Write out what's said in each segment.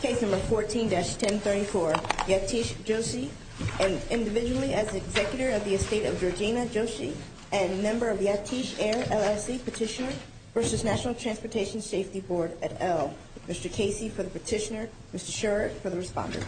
Case number 14-1034, Yatish Joshi and individually as the executor of the estate of Georgina Joshi and member of Yatish Air LLC Petitioner v. National Transportation Safety Board at Elm. Mr. Casey for the petitioner, Mr. Sherrod for the respondent.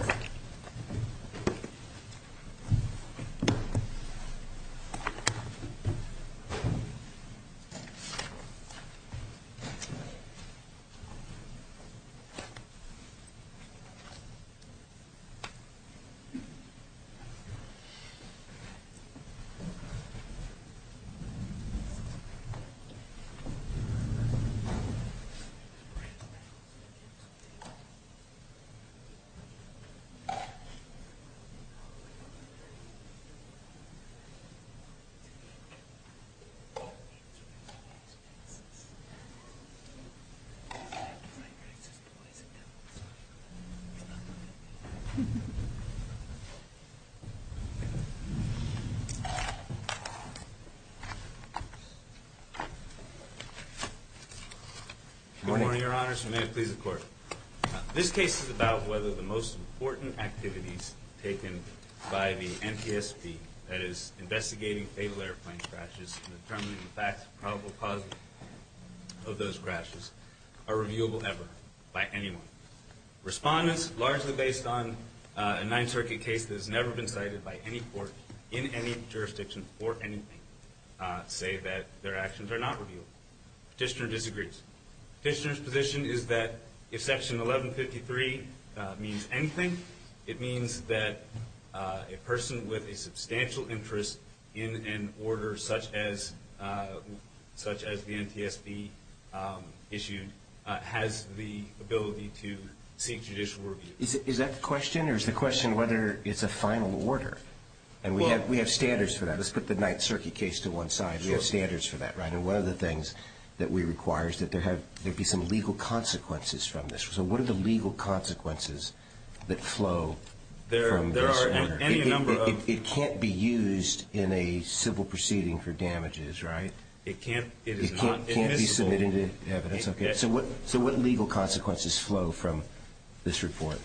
Thank you. Thank you. Thank you. Thank you. Your Honor, if I may please the court. This case is about whether the most important activities taken by the NTSB that is investigating fatal airplane crashes and determining the facts of probable causes of those crashes are reviewable ever by anyone. Respondents largely based on a Ninth Circuit case that has never been cited by any court in any jurisdiction for anything say that their actions are not reviewable. Petitioner disagrees. Petitioner's position is that if Section 1153 means anything, it means that a person with a substantial interest in an order such as the NTSB issued has the ability to seek judicial review. Is that the question or is the question whether it's a final order? And we have standards for that. Let's put the Ninth Circuit case to one side. We have standards for that, right? And one of the things that we require is that there be some legal consequences from this. So what are the legal consequences that flow from this? It can't be used in a civil proceeding for damages, right? It can't be submitted as evidence. So what legal consequences flow from this report?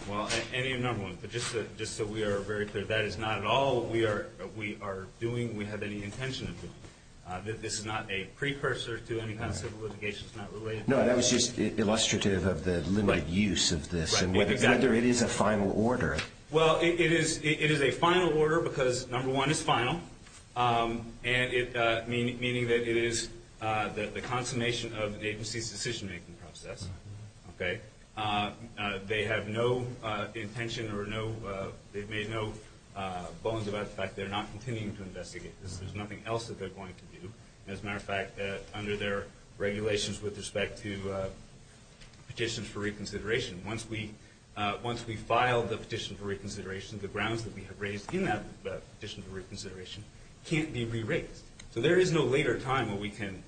Just so we are very clear, that is not at all what we are doing or have any intention of doing. This is not a precursor to any kind of civil litigation. No, that was just illustrative of the limited use of this and whether it is a final order. Well, it is a final order because number one, it's final, meaning that it is the consummation of an agency's decision-making process. They have no intention or they've made no bones about the fact that they're not continuing to investigate this. There's nothing else that they're going to do. As a matter of fact, under their regulations with respect to petitions for reconsideration, once we file the petition for reconsideration, the grounds that we have raised in that petition for reconsideration can't be re-raised. So there is no later time when we can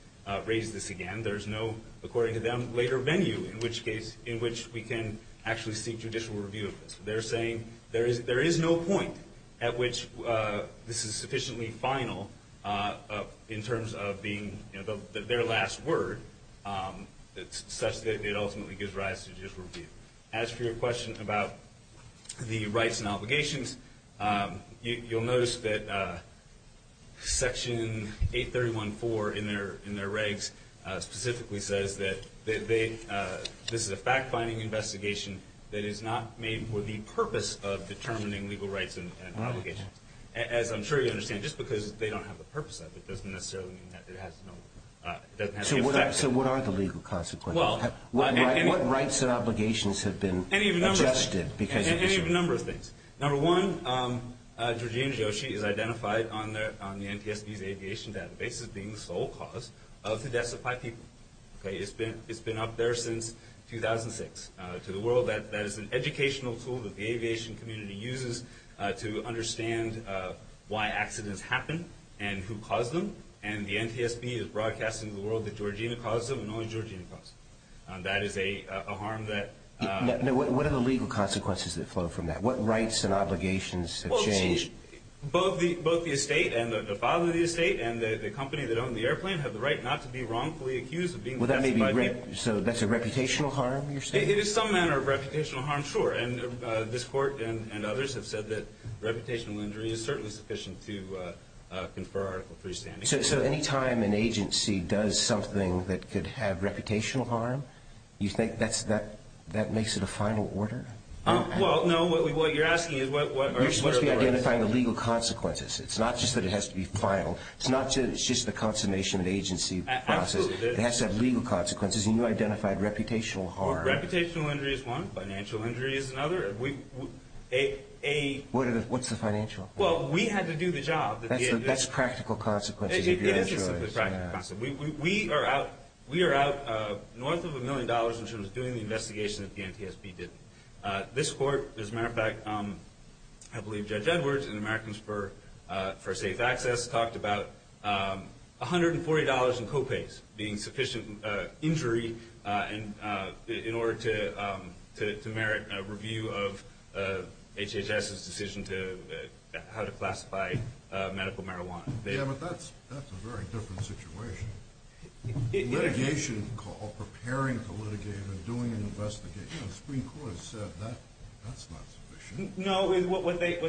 raise this again. There is no, according to them, later venue in which we can actually seek judicial review of this. They're saying there is no point at which this is sufficiently final in terms of being their last word such that it ultimately gives rise to judicial review. As for your question about the rights and obligations, you'll notice that Section 831.4 in their regs specifically says that this is a fact-finding investigation that is not made for the purpose of determining legal rights and obligations. As I'm sure you understand, just because they don't have the purpose of it doesn't necessarily mean that it has no effect. So what are the legal consequences? What rights and obligations have been adjusted? Any of a number of things. Number one, Georgina Joshi is identified on the NTSB's aviation database as being the sole cause of the deaths of five people. It's been up there since 2006. To the world, that is an educational tool that the aviation community uses to understand why accidents happen and who caused them. And the NTSB is broadcasting to the world that Georgina caused them and only Georgina caused them. That is a harm that... What are the legal consequences that flow from that? What rights and obligations have changed? Both the estate and the father of the estate and the company that owned the airplane have the right not to be wrongfully accused of being the deaths of five people. So that's a reputational harm, you're saying? It is some manner of reputational harm, sure. And this court and others have said that reputational injury is certainly sufficient to confer Article III standing. So any time an agency does something that could have reputational harm, you think that makes it a final order? Well, no. What you're asking is what are the rights... You're supposed to be identifying the legal consequences. It's not just that it has to be final. It's not just the consummation of the agency process. Absolutely. It has to have legal consequences. And you identified reputational harm. Well, reputational injury is one. Financial injury is another. What's the financial? Well, we had to do the job. That's the best practical consequences. It is the best practical consequences. We are out north of a million dollars in terms of doing the investigation that the NTSB did. This court, as a matter of fact, I believe Judge Edwards and Americans for Safe Access talked about $140 in co-pays being sufficient injury in order to merit a review of HHS's decision how to classify medical marijuana. Yeah, but that's a very different situation. Litigation call, preparing to litigate and doing an investigation. The Supreme Court has said that's not sufficient. No, what they have said...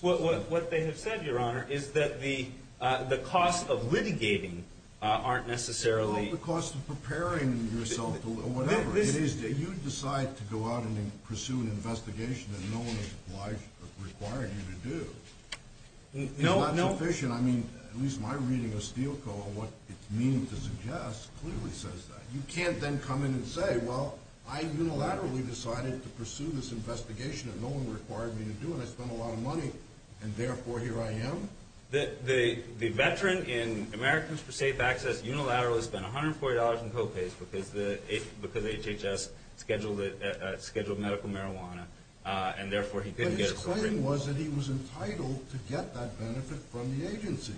What they have said, Your Honor, is that the cost of litigating aren't necessarily... It's not the cost of preparing yourself or whatever. It is that you decide to go out and pursue an investigation that no one has obliged or required you to do. It's not sufficient. I mean, at least my reading of Steele Co. and what it's meaning to suggest clearly says that. You can't then come in and say, well, I unilaterally decided to pursue this investigation that no one required me to do, and I spent a lot of money, and therefore here I am. The veteran in Americans for Safe Access unilaterally spent $140 in co-pays because HHS scheduled medical marijuana, and therefore he couldn't get a review. But his claim was that he was entitled to get that benefit from the agency.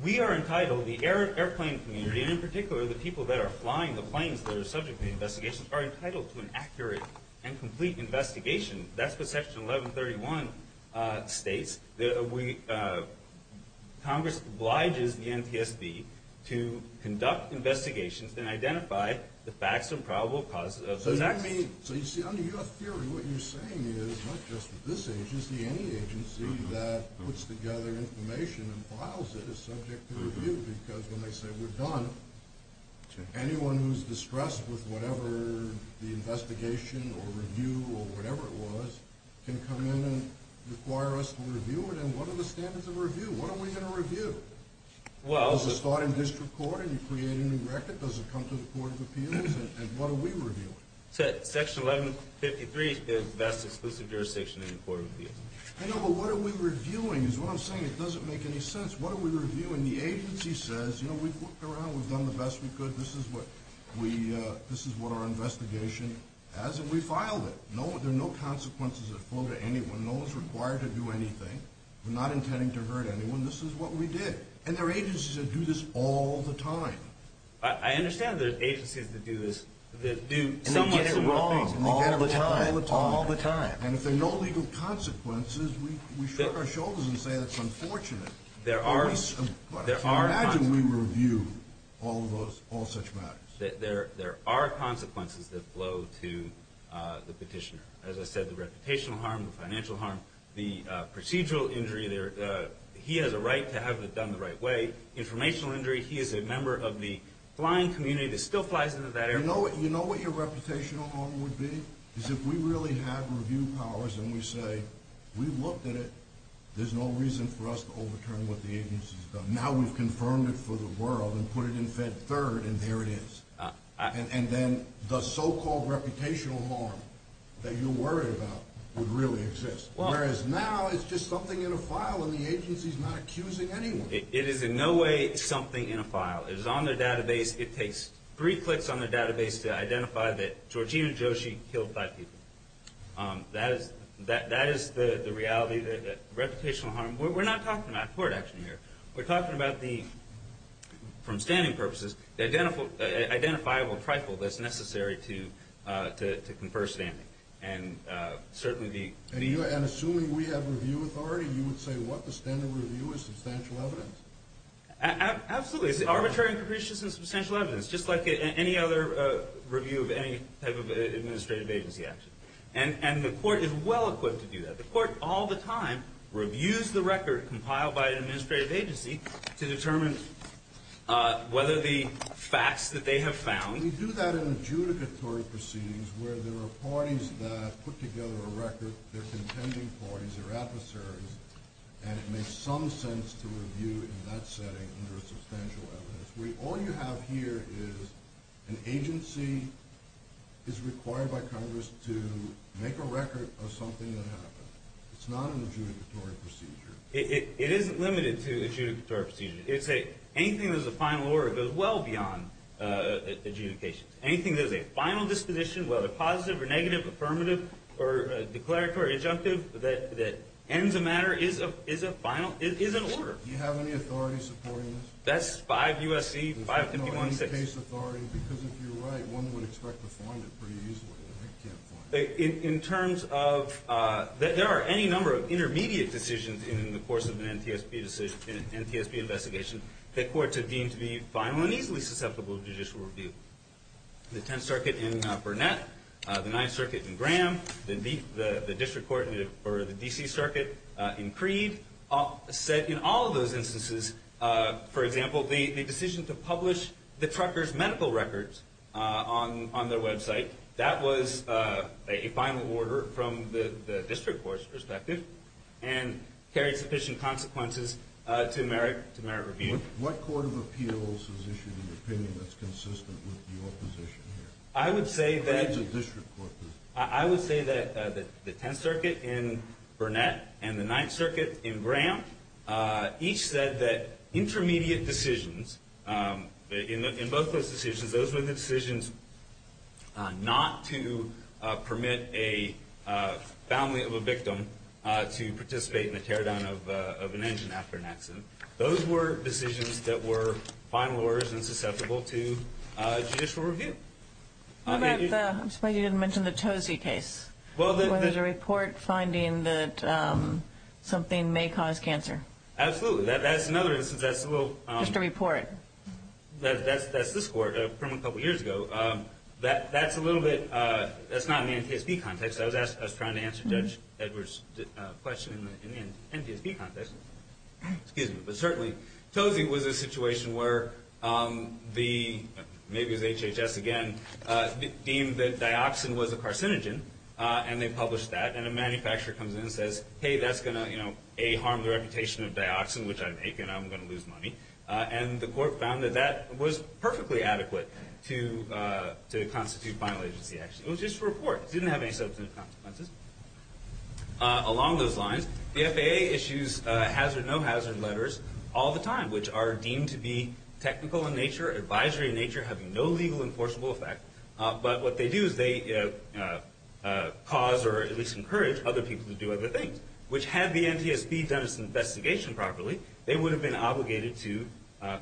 We are entitled, the airplane community, and in particular the people that are flying the planes that are subject to the investigation, are entitled to an accurate and complete investigation. That's what Section 1131 states. Congress obliges the NTSB to conduct investigations and identify the facts and probable causes. So you see, under your theory, what you're saying is not just this agency, any agency that puts together information and files it is subject to review because when they say we're done, anyone who's distressed with whatever the investigation or review or whatever it was can come in and require us to review it, and what are the standards of review? What are we going to review? Does it start in district court and you create a new record? Does it come to the Court of Appeals? And what are we reviewing? Section 1153 is the best exclusive jurisdiction in the Court of Appeals. I know, but what are we reviewing is what I'm saying. It doesn't make any sense. What are we reviewing? When the agency says, you know, we've looked around. We've done the best we could. This is what our investigation has, and we filed it. There are no consequences that fall to anyone. No one's required to do anything. We're not intending to hurt anyone. This is what we did. And there are agencies that do this all the time. I understand there are agencies that do this, that do somewhat similar things. And we get it wrong all the time. All the time. And if there are no legal consequences, we shrug our shoulders and say that's unfortunate. But imagine we review all such matters. There are consequences that flow to the petitioner. As I said, the reputational harm, the financial harm, the procedural injury. He has a right to have it done the right way. Informational injury, he is a member of the flying community that still flies into that area. You know what your reputational harm would be? If we really have review powers and we say we've looked at it, there's no reason for us to overturn what the agency's done. Now we've confirmed it for the world and put it in Fed Third, and there it is. And then the so-called reputational harm that you're worried about would really exist. Whereas now it's just something in a file, and the agency's not accusing anyone. It is in no way something in a file. It is on their database. It takes three clicks on their database to identify that Georgina Joshi killed five people. That is the reality, the reputational harm. We're not talking about court action here. We're talking about the, from standing purposes, the identifiable trifle that's necessary to confer standing. And assuming we have review authority, you would say what the standard review is substantial evidence. Absolutely. It's arbitrary and capricious and substantial evidence, just like any other review of any type of administrative agency action. And the court is well equipped to do that. The court all the time reviews the record compiled by an administrative agency to determine whether the facts that they have found. We do that in adjudicatory proceedings where there are parties that put together a record. They're contending parties. They're adversaries. And it makes some sense to review in that setting under a substantial evidence. All you have here is an agency is required by Congress to make a record of something that happened. It's not an adjudicatory procedure. It isn't limited to adjudicatory procedures. Anything that is a final order goes well beyond adjudications. Anything that is a final disposition, whether positive or negative, affirmative or declaratory or adjunctive, that ends a matter is a final, is an order. Do you have any authority supporting this? That's 5 U.S.C. 551-6. No, any case authority, because if you're right, one would expect to find it pretty easily. I can't find it. In terms of there are any number of intermediate decisions in the course of an NTSB investigation that courts have deemed to be final and easily susceptible to judicial review. The 10th Circuit in Burnett, the 9th Circuit in Graham, the District Court or the D.C. Circuit in Creed said in all of those instances, for example, the decision to publish the truckers' medical records on their website, that was a final order from the District Court's perspective and carried sufficient consequences to merit review. What court of appeals has issued an opinion that's consistent with your position here? I would say that the 10th Circuit in Burnett and the 9th Circuit in Graham each said that the intermediate decisions, in both those decisions, those were the decisions not to permit a family of a victim to participate in the teardown of an engine after an accident. Those were decisions that were final orders and susceptible to judicial review. What about the, I'm surprised you didn't mention the Tozzi case, where there's a report finding that something may cause cancer. Absolutely. That's another instance. Just a report. That's this court, a couple years ago. That's a little bit, that's not in the NTSB context. I was trying to answer Judge Edwards' question in the NTSB context. But certainly, Tozzi was a situation where the, maybe it was HHS again, deemed that dioxin was a carcinogen. And they published that. And a manufacturer comes in and says, hey, that's going to A, harm the reputation of dioxin, which I'm A, and I'm going to lose money. And the court found that that was perfectly adequate to constitute final agency action. It was just a report. It didn't have any substantive consequences. Along those lines, the FAA issues hazard, no hazard letters all the time, which are deemed to be technical in nature, advisory in nature, having no legal enforceable effect. But what they do is they cause or at least encourage other people to do other things. Which had the NTSB done its investigation properly, they would have been obligated to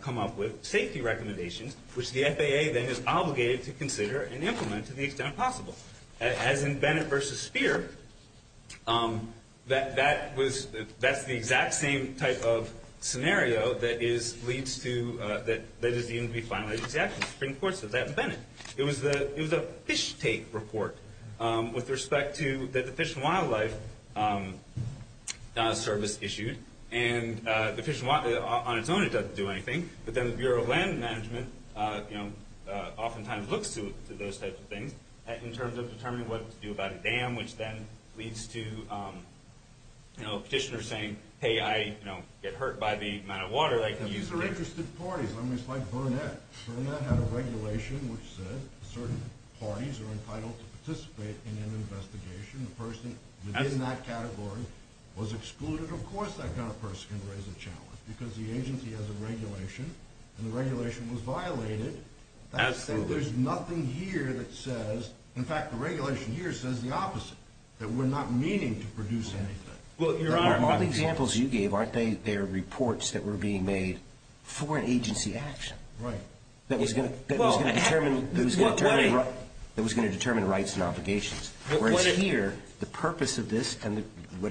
come up with safety recommendations, which the FAA then is obligated to consider and implement to the extent possible. As in Bennett v. Speer, that was, that's the exact same type of scenario that is, leads to, that is deemed to be final agency action. It was a fish tape report with respect to the fish and wildlife service issued. And the fish and wildlife, on its own, it doesn't do anything. But then the Bureau of Land Management, you know, oftentimes looks to those types of things in terms of determining what to do about a dam, which then leads to, you know, petitioners saying, hey, I, you know, get hurt by the amount of water that I can use. These are interested parties. I mean, it's like Burnett. Burnett had a regulation which said certain parties are entitled to participate in an investigation. The person within that category was excluded. Of course, that kind of person can raise a challenge because the agency has a regulation, and the regulation was violated. Absolutely. So there's nothing here that says, in fact, the regulation here says the opposite, that we're not meaning to produce anything. Well, Your Honor. All the examples you gave, aren't they reports that were being made for an agency action? Right. That was going to determine rights and obligations. Whereas here, the purpose of this and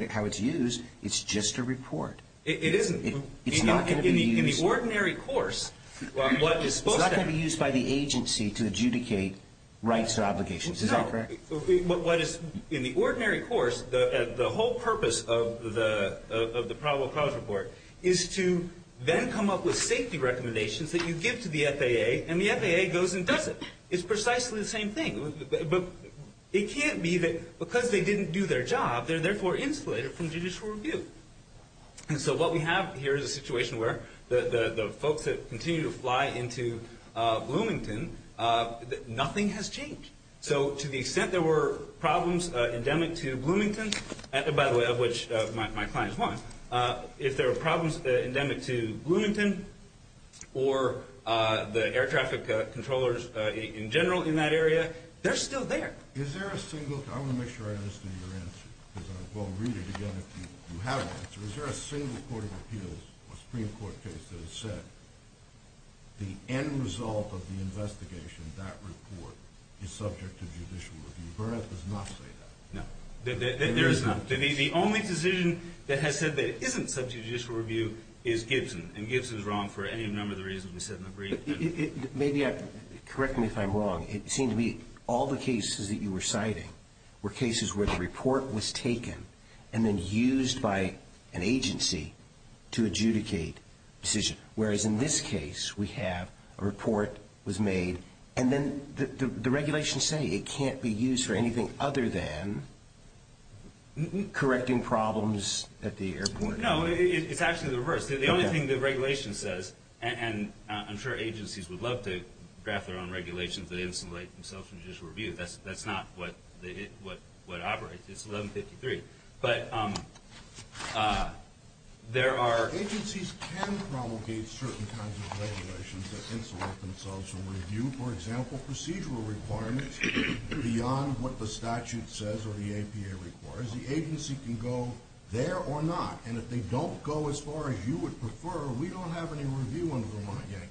how it's used, it's just a report. It isn't. It's not going to be used. In the ordinary course, what is supposed to be. It's not going to be used by the agency to adjudicate rights and obligations. Is that correct? In the ordinary course, the whole purpose of the probable cause report is to then come up with safety recommendations that you give to the FAA, and the FAA goes and does it. It's precisely the same thing. But it can't be that because they didn't do their job, they're therefore insulated from judicial review. And so what we have here is a situation where the folks that continue to fly into Bloomington, nothing has changed. So to the extent there were problems endemic to Bloomington, by the way, of which my client is one, if there were problems endemic to Bloomington or the air traffic controllers in general in that area, they're still there. Is there a single – I want to make sure I understand your answer because I won't read it again if you have an answer. Is there a single court of appeals or Supreme Court case that has said the end result of the investigation, that report, is subject to judicial review? Burnett does not say that. No. There is not. The only decision that has said that it isn't subject to judicial review is Gibson, and Gibson is wrong for any number of the reasons we said in the brief. Maybe correct me if I'm wrong. It seemed to me all the cases that you were citing were cases where the report was taken and then used by an agency to adjudicate a decision, whereas in this case we have a report was made and then the regulations say it can't be used for anything other than correcting problems at the airport. No, it's actually the reverse. The only thing the regulation says – and I'm sure agencies would love to draft their own regulations that insulate themselves from judicial review. That's not what operates. It's 1153. But there are – Agencies can promulgate certain kinds of regulations that insulate themselves from review. For example, procedural requirements beyond what the statute says or the APA requires. The agency can go there or not, and if they don't go as far as you would prefer, we don't have any review on Vermont yet.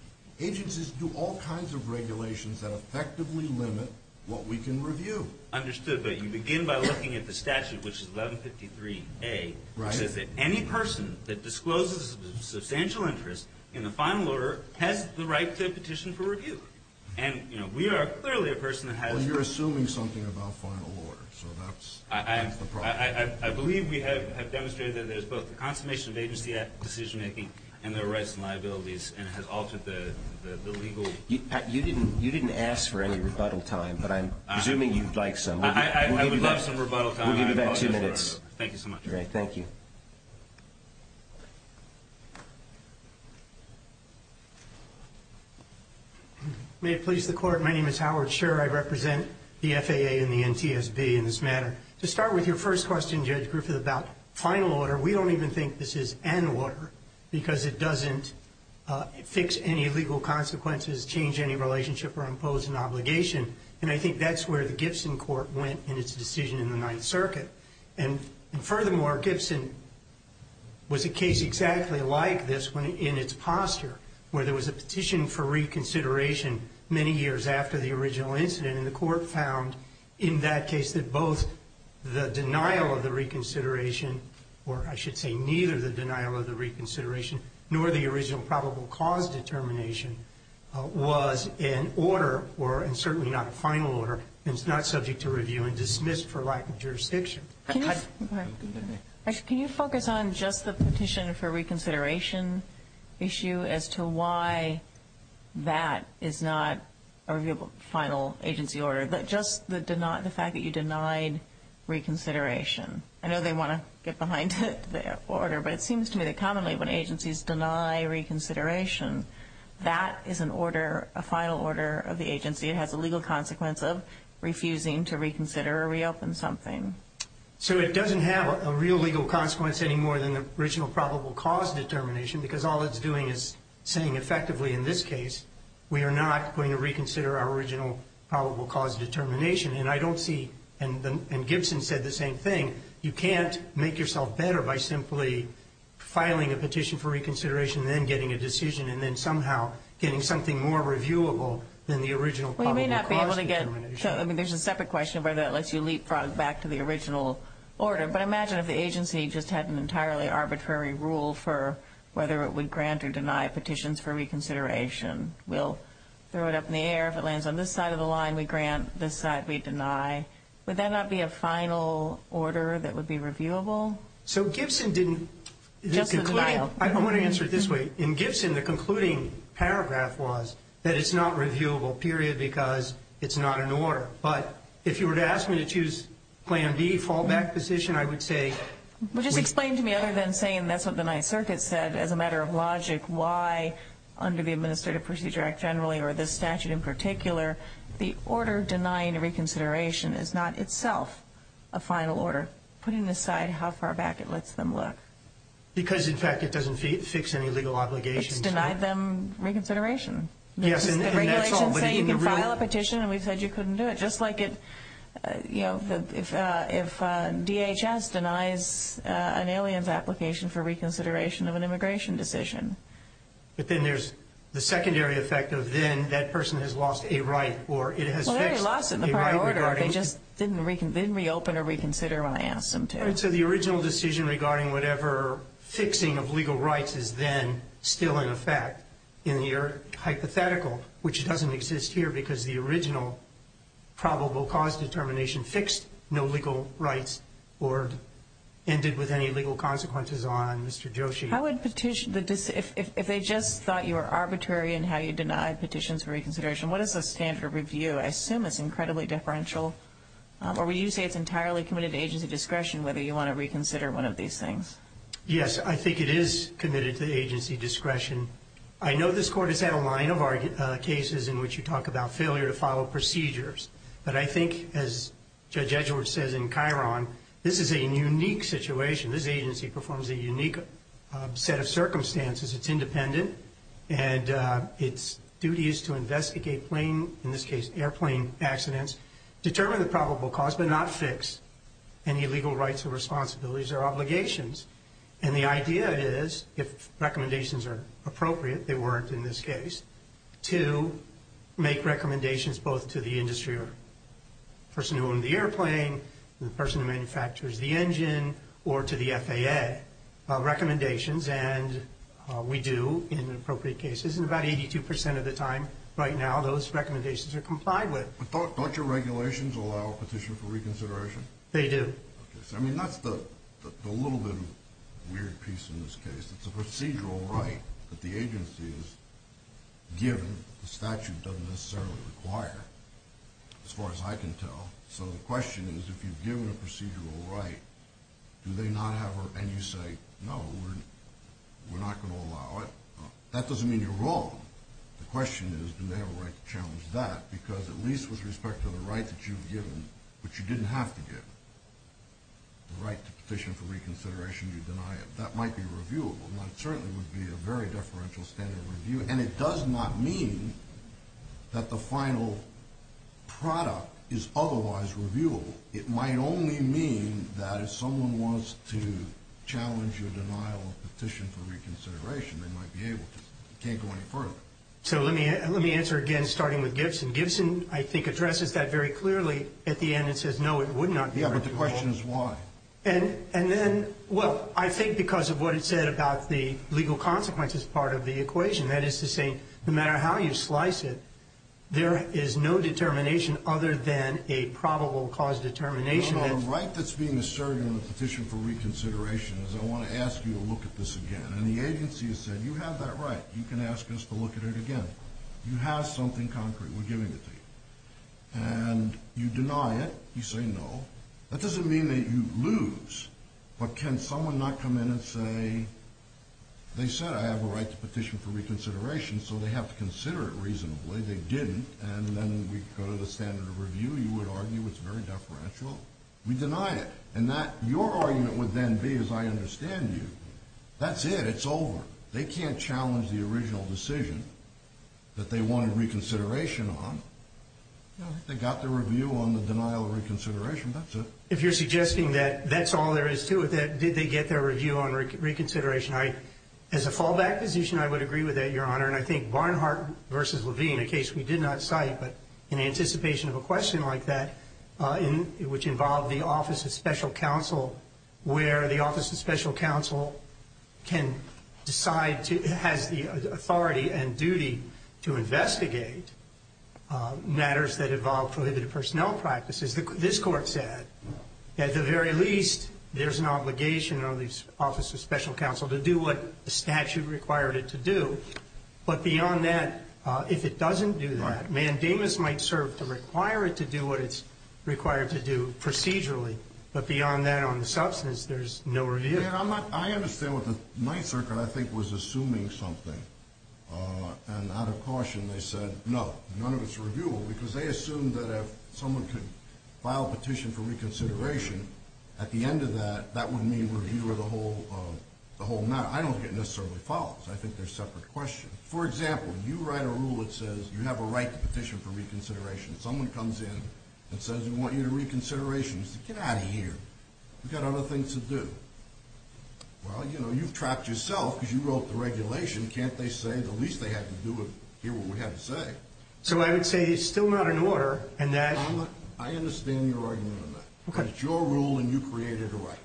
Agencies do all kinds of regulations that effectively limit what we can review. Understood. But you begin by looking at the statute, which is 1153A, which says that any person that discloses a substantial interest in the final order has the right to petition for review. And we are clearly a person that has – Well, you're assuming something about final order, so that's the problem. I believe we have demonstrated that there's both the consummation of agency decision-making and there are rights and liabilities, and it has altered the legal – You didn't ask for any rebuttal time, but I'm assuming you'd like some. I would love some rebuttal time. We'll give you about two minutes. Thank you so much. All right, thank you. May it please the Court, my name is Howard Scherer. I represent the FAA and the NTSB in this matter. To start with your first question, Judge Griffith, about final order, we don't even think this is an order because it doesn't fix any legal consequences, change any relationship, or impose an obligation. And I think that's where the Gibson court went in its decision in the Ninth Circuit. And furthermore, Gibson was a case exactly like this in its posture, where there was a petition for reconsideration many years after the original incident, and the Court found in that case that both the denial of the reconsideration, or I should say neither the denial of the reconsideration nor the original probable cause determination, was an order, and certainly not a final order, and is not subject to review and dismissed for lack of jurisdiction. Can you focus on just the petition for reconsideration issue as to why that is not a final agency order? Just the fact that you denied reconsideration. I know they want to get behind the order, but it seems to me that commonly when agencies deny reconsideration, that is an order, a final order of the agency. It has a legal consequence of refusing to reconsider or reopen something. So it doesn't have a real legal consequence any more than the original probable cause determination, because all it's doing is saying effectively in this case, we are not going to reconsider our original probable cause determination. And I don't see, and Gibson said the same thing, you can't make yourself better by simply filing a petition for reconsideration and then getting a decision, and then somehow getting something more reviewable than the original probable cause determination. Well, you may not be able to get, I mean, there's a separate question about whether that lets you leapfrog back to the original order, but imagine if the agency just had an entirely arbitrary rule for whether it would grant or deny petitions for reconsideration. We'll throw it up in the air. If it lands on this side of the line, we grant. This side, we deny. Would that not be a final order that would be reviewable? So Gibson didn't – Just the denial. I want to answer it this way. In Gibson, the concluding paragraph was that it's not reviewable, period, because it's not an order. But if you were to ask me to choose plan B, fallback position, I would say – Well, just explain to me, other than saying that's what the Ninth Circuit said, as a matter of logic, why under the Administrative Procedure Act generally, or this statute in particular, the order denying reconsideration is not itself a final order, putting aside how far back it lets them look. Because, in fact, it doesn't fix any legal obligations. It's denied them reconsideration. Yes, and that's all. The regulations say you can file a petition, and we've said you couldn't do it. Just like if DHS denies an alien's application for reconsideration of an immigration decision. But then there's the secondary effect of then that person has lost a right, or it has fixed a right regarding – Well, they already lost it in the prior order. They just didn't reopen or reconsider when I asked them to. All right. So the original decision regarding whatever fixing of legal rights is then still in effect in the hypothetical, which doesn't exist here because the original probable cause determination fixed no legal rights or ended with any legal consequences on Mr. Joshi. If they just thought you were arbitrary in how you denied petitions for reconsideration, what is the standard of review? I assume it's incredibly deferential. Or would you say it's entirely committed to agency discretion whether you want to reconsider one of these things? Yes, I think it is committed to agency discretion. I know this court has had a line of cases in which you talk about failure to follow procedures. But I think, as Judge Edgeworth says in Chiron, this is a unique situation. This agency performs a unique set of circumstances. It's independent, and its duty is to investigate plane, in this case airplane accidents, determine the probable cause but not fix any legal rights or responsibilities or obligations. And the idea is, if recommendations are appropriate, they weren't in this case, to make recommendations both to the industry or the person who owned the airplane, the person who manufactures the engine, or to the FAA, recommendations. And we do in appropriate cases. And about 82% of the time right now those recommendations are complied with. But don't your regulations allow a petition for reconsideration? They do. Okay. So, I mean, that's the little bit weird piece in this case. It's a procedural right that the agency is given. The statute doesn't necessarily require, as far as I can tell. So the question is, if you've given a procedural right, do they not have a right? And you say, no, we're not going to allow it. That doesn't mean you're wrong. The question is, do they have a right to challenge that? Because at least with respect to the right that you've given, which you didn't have to give, the right to petition for reconsideration, you deny it. That might be reviewable. That certainly would be a very deferential standard of review. And it does not mean that the final product is otherwise reviewable. It might only mean that if someone was to challenge your denial of petition for reconsideration, they might be able to. You can't go any further. So let me answer again, starting with Gibson. Gibson, I think, addresses that very clearly at the end and says, no, it would not be reviewable. Yeah, but the question is why. And then, well, I think because of what it said about the legal consequences part of the equation. That is to say, no matter how you slice it, there is no determination other than a probable cause determination. No, no, the right that's being asserted in the petition for reconsideration is I want to ask you to look at this again. And the agency has said, you have that right. You can ask us to look at it again. You have something concrete. We're giving it to you. And you deny it. You say no. That doesn't mean that you lose. But can someone not come in and say, they said I have a right to petition for reconsideration, so they have to consider it reasonably. They didn't. And then we go to the standard of review. You would argue it's very deferential. We deny it. And your argument would then be, as I understand you, that's it. It's over. They can't challenge the original decision that they wanted reconsideration on. They got their review on the denial of reconsideration. That's it. If you're suggesting that that's all there is to it, that did they get their review on reconsideration, as a fallback position, I would agree with that, Your Honor. And I think Barnhart v. Levine, a case we did not cite, but in anticipation of a question like that, which involved the Office of Special Counsel, where the Office of Special Counsel can decide, has the authority and duty to investigate matters that involve prohibited personnel practices. This Court said, at the very least, there's an obligation on the Office of Special Counsel to do what the statute required it to do. But beyond that, if it doesn't do that, mandamus might serve to require it to do what it's required to do procedurally. But beyond that, on the substance, there's no review. I understand what the Ninth Circuit, I think, was assuming something. And out of caution, they said, no, none of it's reviewable, because they assumed that if someone could file a petition for reconsideration, at the end of that, that would mean review of the whole matter. I don't think it necessarily follows. I think they're separate questions. For example, you write a rule that says you have a right to petition for reconsideration. Someone comes in and says, we want you to reconsideration. You say, get out of here. We've got other things to do. Well, you know, you've trapped yourself, because you wrote the regulation. Can't they say the least they have to do is hear what we have to say? So I would say it's still not in order, and that— I understand your argument on that. Okay. But it's your rule, and you created a right.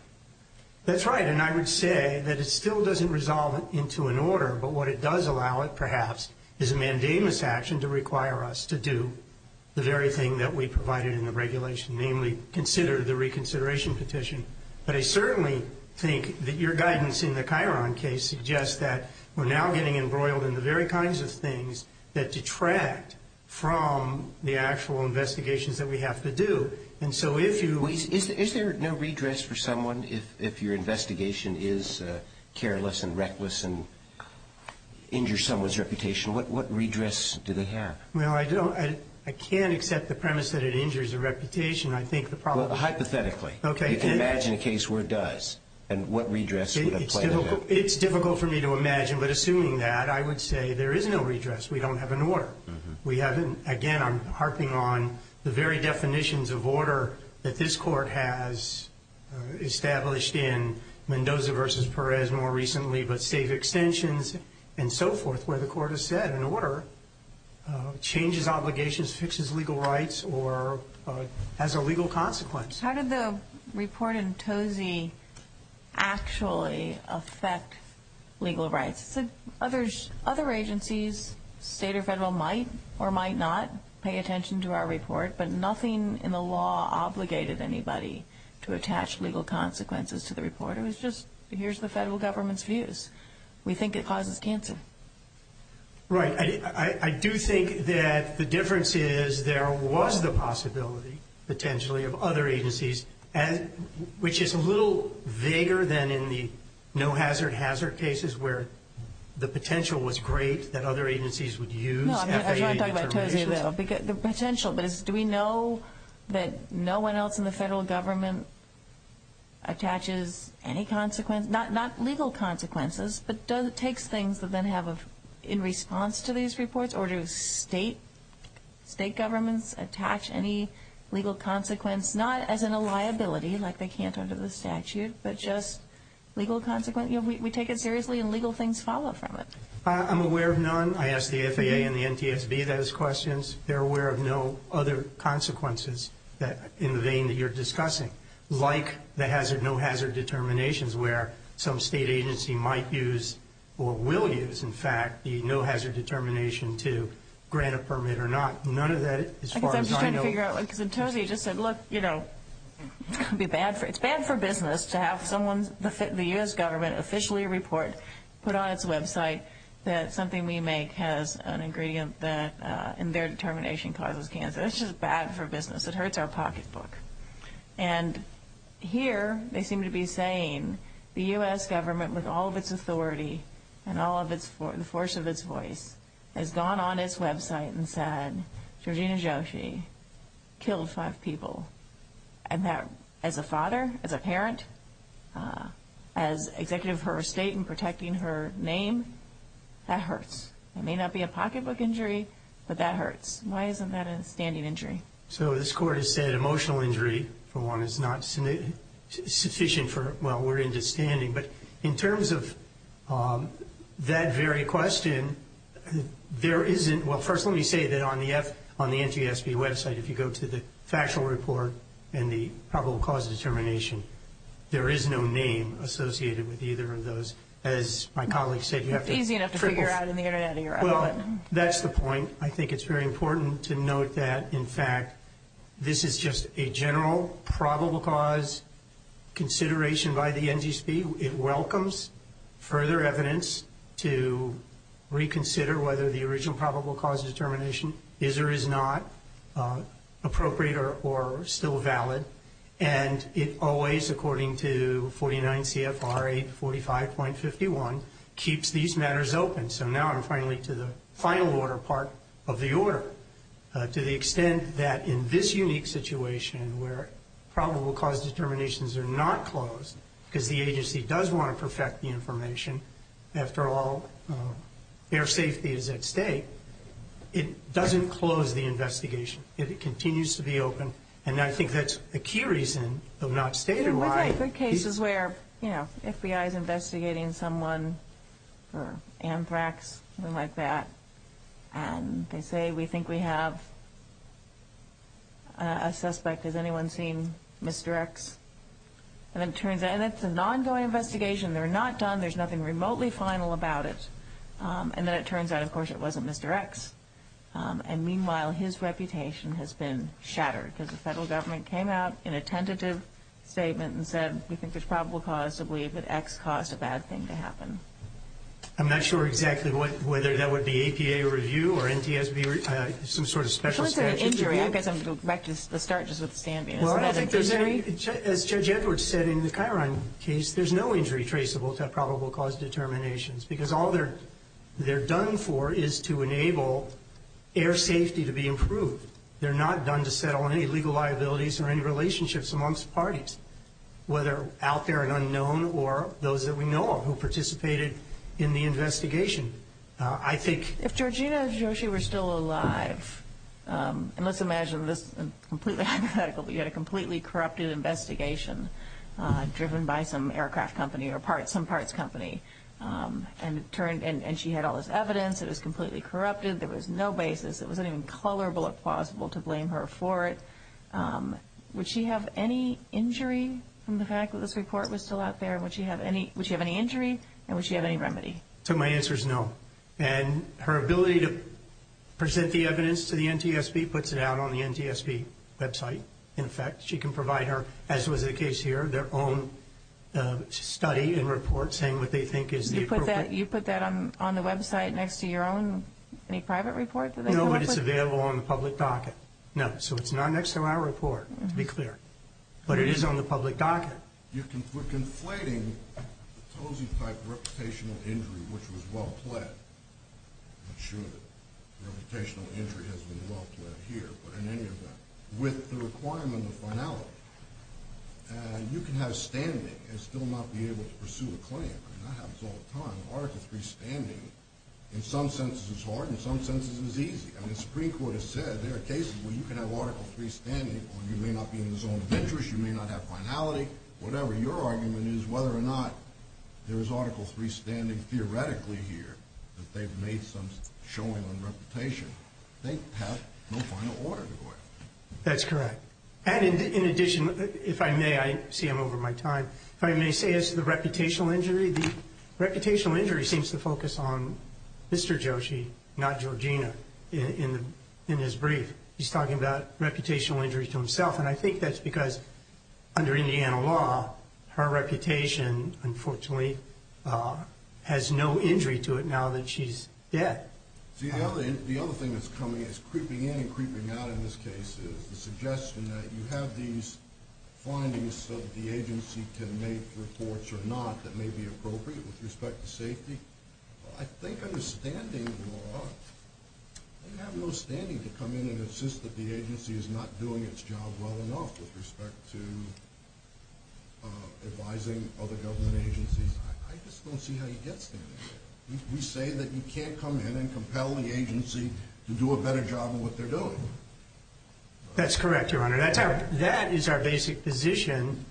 That's right. And I would say that it still doesn't resolve into an order, but what it does allow, perhaps, is a mandamus action to require us to do the very thing that we provided in the regulation, namely consider the reconsideration petition. But I certainly think that your guidance in the Chiron case suggests that we're now getting embroiled in the very kinds of things that detract from the actual investigations that we have to do. And so if you— Is there no redress for someone if your investigation is careless and reckless and injures someone's reputation? What redress do they have? Well, I don't—I can't accept the premise that it injures a reputation. I think the problem— Hypothetically. Okay. You can imagine a case where it does, and what redress would apply to that? It's difficult for me to imagine, but assuming that, I would say there is no redress. We don't have an order. Again, I'm harping on the very definitions of order that this court has established in Mendoza v. Perez more recently, but state extensions and so forth where the court has said an order changes obligations, fixes legal rights, or has a legal consequence. How did the report in Tozzi actually affect legal rights? Other agencies, state or federal, might or might not pay attention to our report, but nothing in the law obligated anybody to attach legal consequences to the report. It was just, here's the federal government's views. We think it causes cancer. Right. I do think that the difference is there was the possibility, potentially, of other agencies, which is a little vaguer than in the no hazard hazard cases where the potential was great, that other agencies would use FAA terminations. No, I was going to talk about Tozzi, though. The potential, but do we know that no one else in the federal government attaches any consequence, not legal consequences, but takes things that then have, in response to these reports, or do state governments attach any legal consequence, not as in a liability, like they can't under the statute, but just legal consequence? We take it seriously, and legal things follow from it. I'm aware of none. I asked the FAA and the NTSB those questions. They're aware of no other consequences in the vein that you're discussing, like the hazard no hazard determinations where some state agency might use or will use, in fact, the no hazard determination to grant a permit or not. None of that, as far as I know. I guess I'm just trying to figure out, because Tozzi just said, look, you know, it's bad for business to have the U.S. government officially report, put on its website, that something we make has an ingredient that, in their determination, causes cancer. It's just bad for business. It hurts our pocketbook. And here they seem to be saying the U.S. government, with all of its authority and all of the force of its voice, has gone on its website and said, Georgina Joshi killed five people, and that, as a father, as a parent, as executive of her estate and protecting her name, that hurts. It may not be a pocketbook injury, but that hurts. Why isn't that a standing injury? So this Court has said emotional injury, for one, is not sufficient for, well, we're into standing. But in terms of that very question, there isn't, well, first let me say that on the NTSB website, if you go to the factual report and the probable cause determination, there is no name associated with either of those. As my colleague said, you have to... Easy enough to figure out on the Internet. Well, that's the point. I think it's very important to note that, in fact, this is just a general probable cause consideration by the NTSB. It welcomes further evidence to reconsider whether the original probable cause determination is or is not appropriate or still valid. And it always, according to 49 CFR 845.51, keeps these matters open. And so now I'm finally to the final order part of the order, to the extent that in this unique situation where probable cause determinations are not closed, because the agency does want to perfect the information, after all, air safety is at stake, it doesn't close the investigation. It continues to be open. And I think that's a key reason of not stating why... And they say, we think we have a suspect. Has anyone seen Mr. X? And it's an ongoing investigation. They're not done. There's nothing remotely final about it. And then it turns out, of course, it wasn't Mr. X. And meanwhile, his reputation has been shattered, because the federal government came out in a tentative statement and said, we think there's probable cause to believe that X caused a bad thing to happen. I'm not sure exactly whether that would be APA review or NTSB review, some sort of special statute. I guess I'm going to go back to the start, just with the stand-by. As Judge Edwards said in the Chiron case, there's no injury traceable to probable cause determinations, because all they're done for is to enable air safety to be improved. They're not done to settle on any legal liabilities or any relationships amongst parties, whether out there and unknown or those that we know of who participated in the investigation. If Georgina and Joshi were still alive, and let's imagine this completely hypothetical, you had a completely corrupted investigation, driven by some aircraft company or some parts company, and she had all this evidence, it was completely corrupted, there was no basis, it wasn't even colorable or plausible to blame her for it, would she have any injury from the fact that this report was still out there? Would she have any injury and would she have any remedy? So my answer is no. And her ability to present the evidence to the NTSB puts it out on the NTSB website. In fact, she can provide her, as was the case here, their own study and report saying what they think is appropriate. You put that on the website next to your own private report? No, but it's available on the public docket. No, so it's not next to our report, to be clear. But it is on the public docket. You can put conflating the Tozzi-type reputational injury, which was well-pled, I'm not sure the reputational injury has been well-pled here, but in any event, with the requirement of finality, you can have standing and still not be able to pursue a claim. That happens all the time. Article III standing, in some senses is hard, in some senses is easy. And the Supreme Court has said there are cases where you can have Article III standing or you may not be in the zone of interest, you may not have finality, whatever your argument is whether or not there is Article III standing theoretically here that they've made some showing on reputation. They have no final order to go after. That's correct. And in addition, if I may, I see I'm over my time, if I may say as to the reputational injury, I see the reputational injury seems to focus on Mr. Joshi, not Georgina, in his brief. He's talking about reputational injury to himself, and I think that's because under Indiana law her reputation, unfortunately, has no injury to it now that she's dead. See, the other thing that's coming is creeping in and creeping out in this case is the suggestion that you have these findings so that the agency can make reports or not that may be appropriate with respect to safety. Well, I think under standing law, they have no standing to come in and insist that the agency is not doing its job well enough with respect to advising other government agencies. I just don't see how you get standing there. We say that you can't come in and compel the agency to do a better job than what they're doing. That's correct, Your Honor. That is our basic position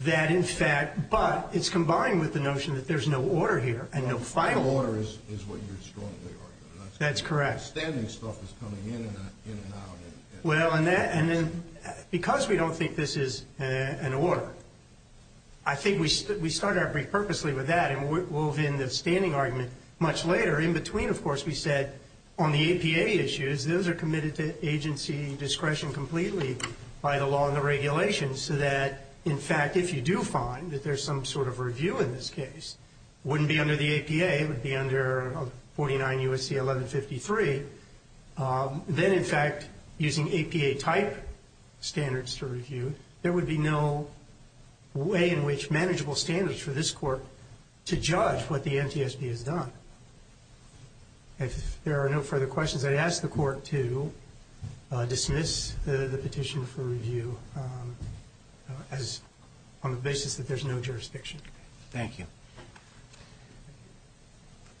that, in fact, but it's combined with the notion that there's no order here and no final order. Final order is what you're strongly arguing. That's correct. Standing stuff is coming in and out. Well, and then because we don't think this is an order, I think we started our brief purposely with that, and we'll have in the standing argument much later. In between, of course, we said on the APA issues, those are committed to agency discretion completely by the law and the regulations so that, in fact, if you do find that there's some sort of review in this case, it wouldn't be under the APA. It would be under 49 U.S.C. 1153. Then, in fact, using APA type standards to review, there would be no way in which manageable standards for this court to judge what the NTSB has done. If there are no further questions, I'd ask the court to dismiss the petition for review on the basis that there's no jurisdiction. Thank you.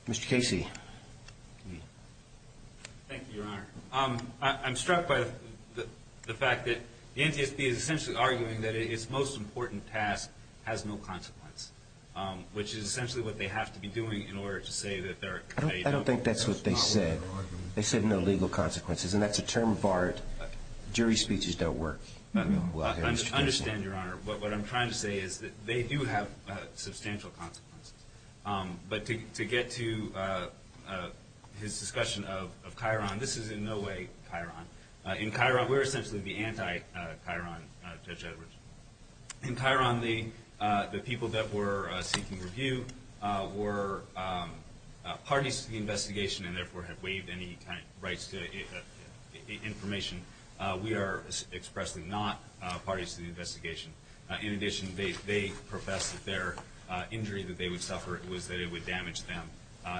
Mr. Casey. Thank you, Your Honor. I'm struck by the fact that the NTSB is essentially arguing that its most important task has no consequence, which is essentially what they have to be doing in order to say that they're- I don't think that's what they said. They said no legal consequences, and that's a term barred. Jury speeches don't work. I understand, Your Honor. What I'm trying to say is that they do have substantial consequences. But to get to his discussion of Chiron, this is in no way Chiron. In Chiron, we're essentially the anti-Chiron Judge Edwards. In Chiron, the people that were seeking review were parties to the investigation and therefore have waived any rights to information. We are expressly not parties to the investigation. In addition, they professed that their injury that they would suffer was that it would damage them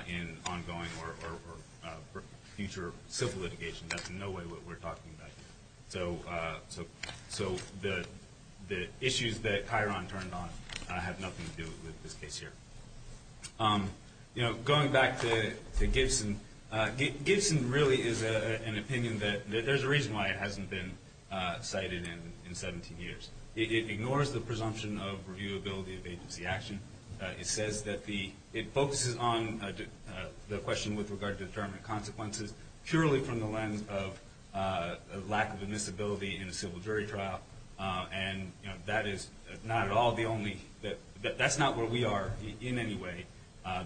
in ongoing or future civil litigation. That's in no way what we're talking about here. So the issues that Chiron turned on have nothing to do with this case here. Going back to Gibson, Gibson really is an opinion that there's a reason why it hasn't been cited in 17 years. It ignores the presumption of reviewability of agency action. It says that the-it focuses on the question with regard to determined consequences purely from the lens of lack of admissibility in a civil jury trial. And that is not at all the only-that's not where we are in any way.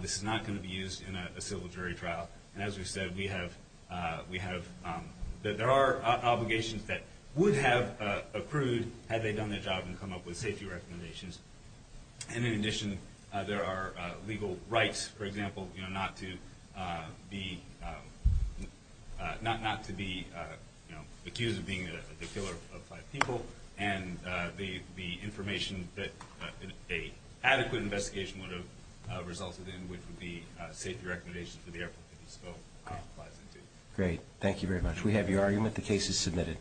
This is not going to be used in a civil jury trial. And as we've said, we have-there are obligations that would have accrued had they done their job and come up with safety recommendations. And in addition, there are legal rights, for example, you know, not to be-not to be, you know, accused of being the killer of five people. And the information that an adequate investigation would have resulted in, which would be safety recommendations for the airplane that he spoke flies into. Great. Thank you very much. We have your argument. The case is submitted.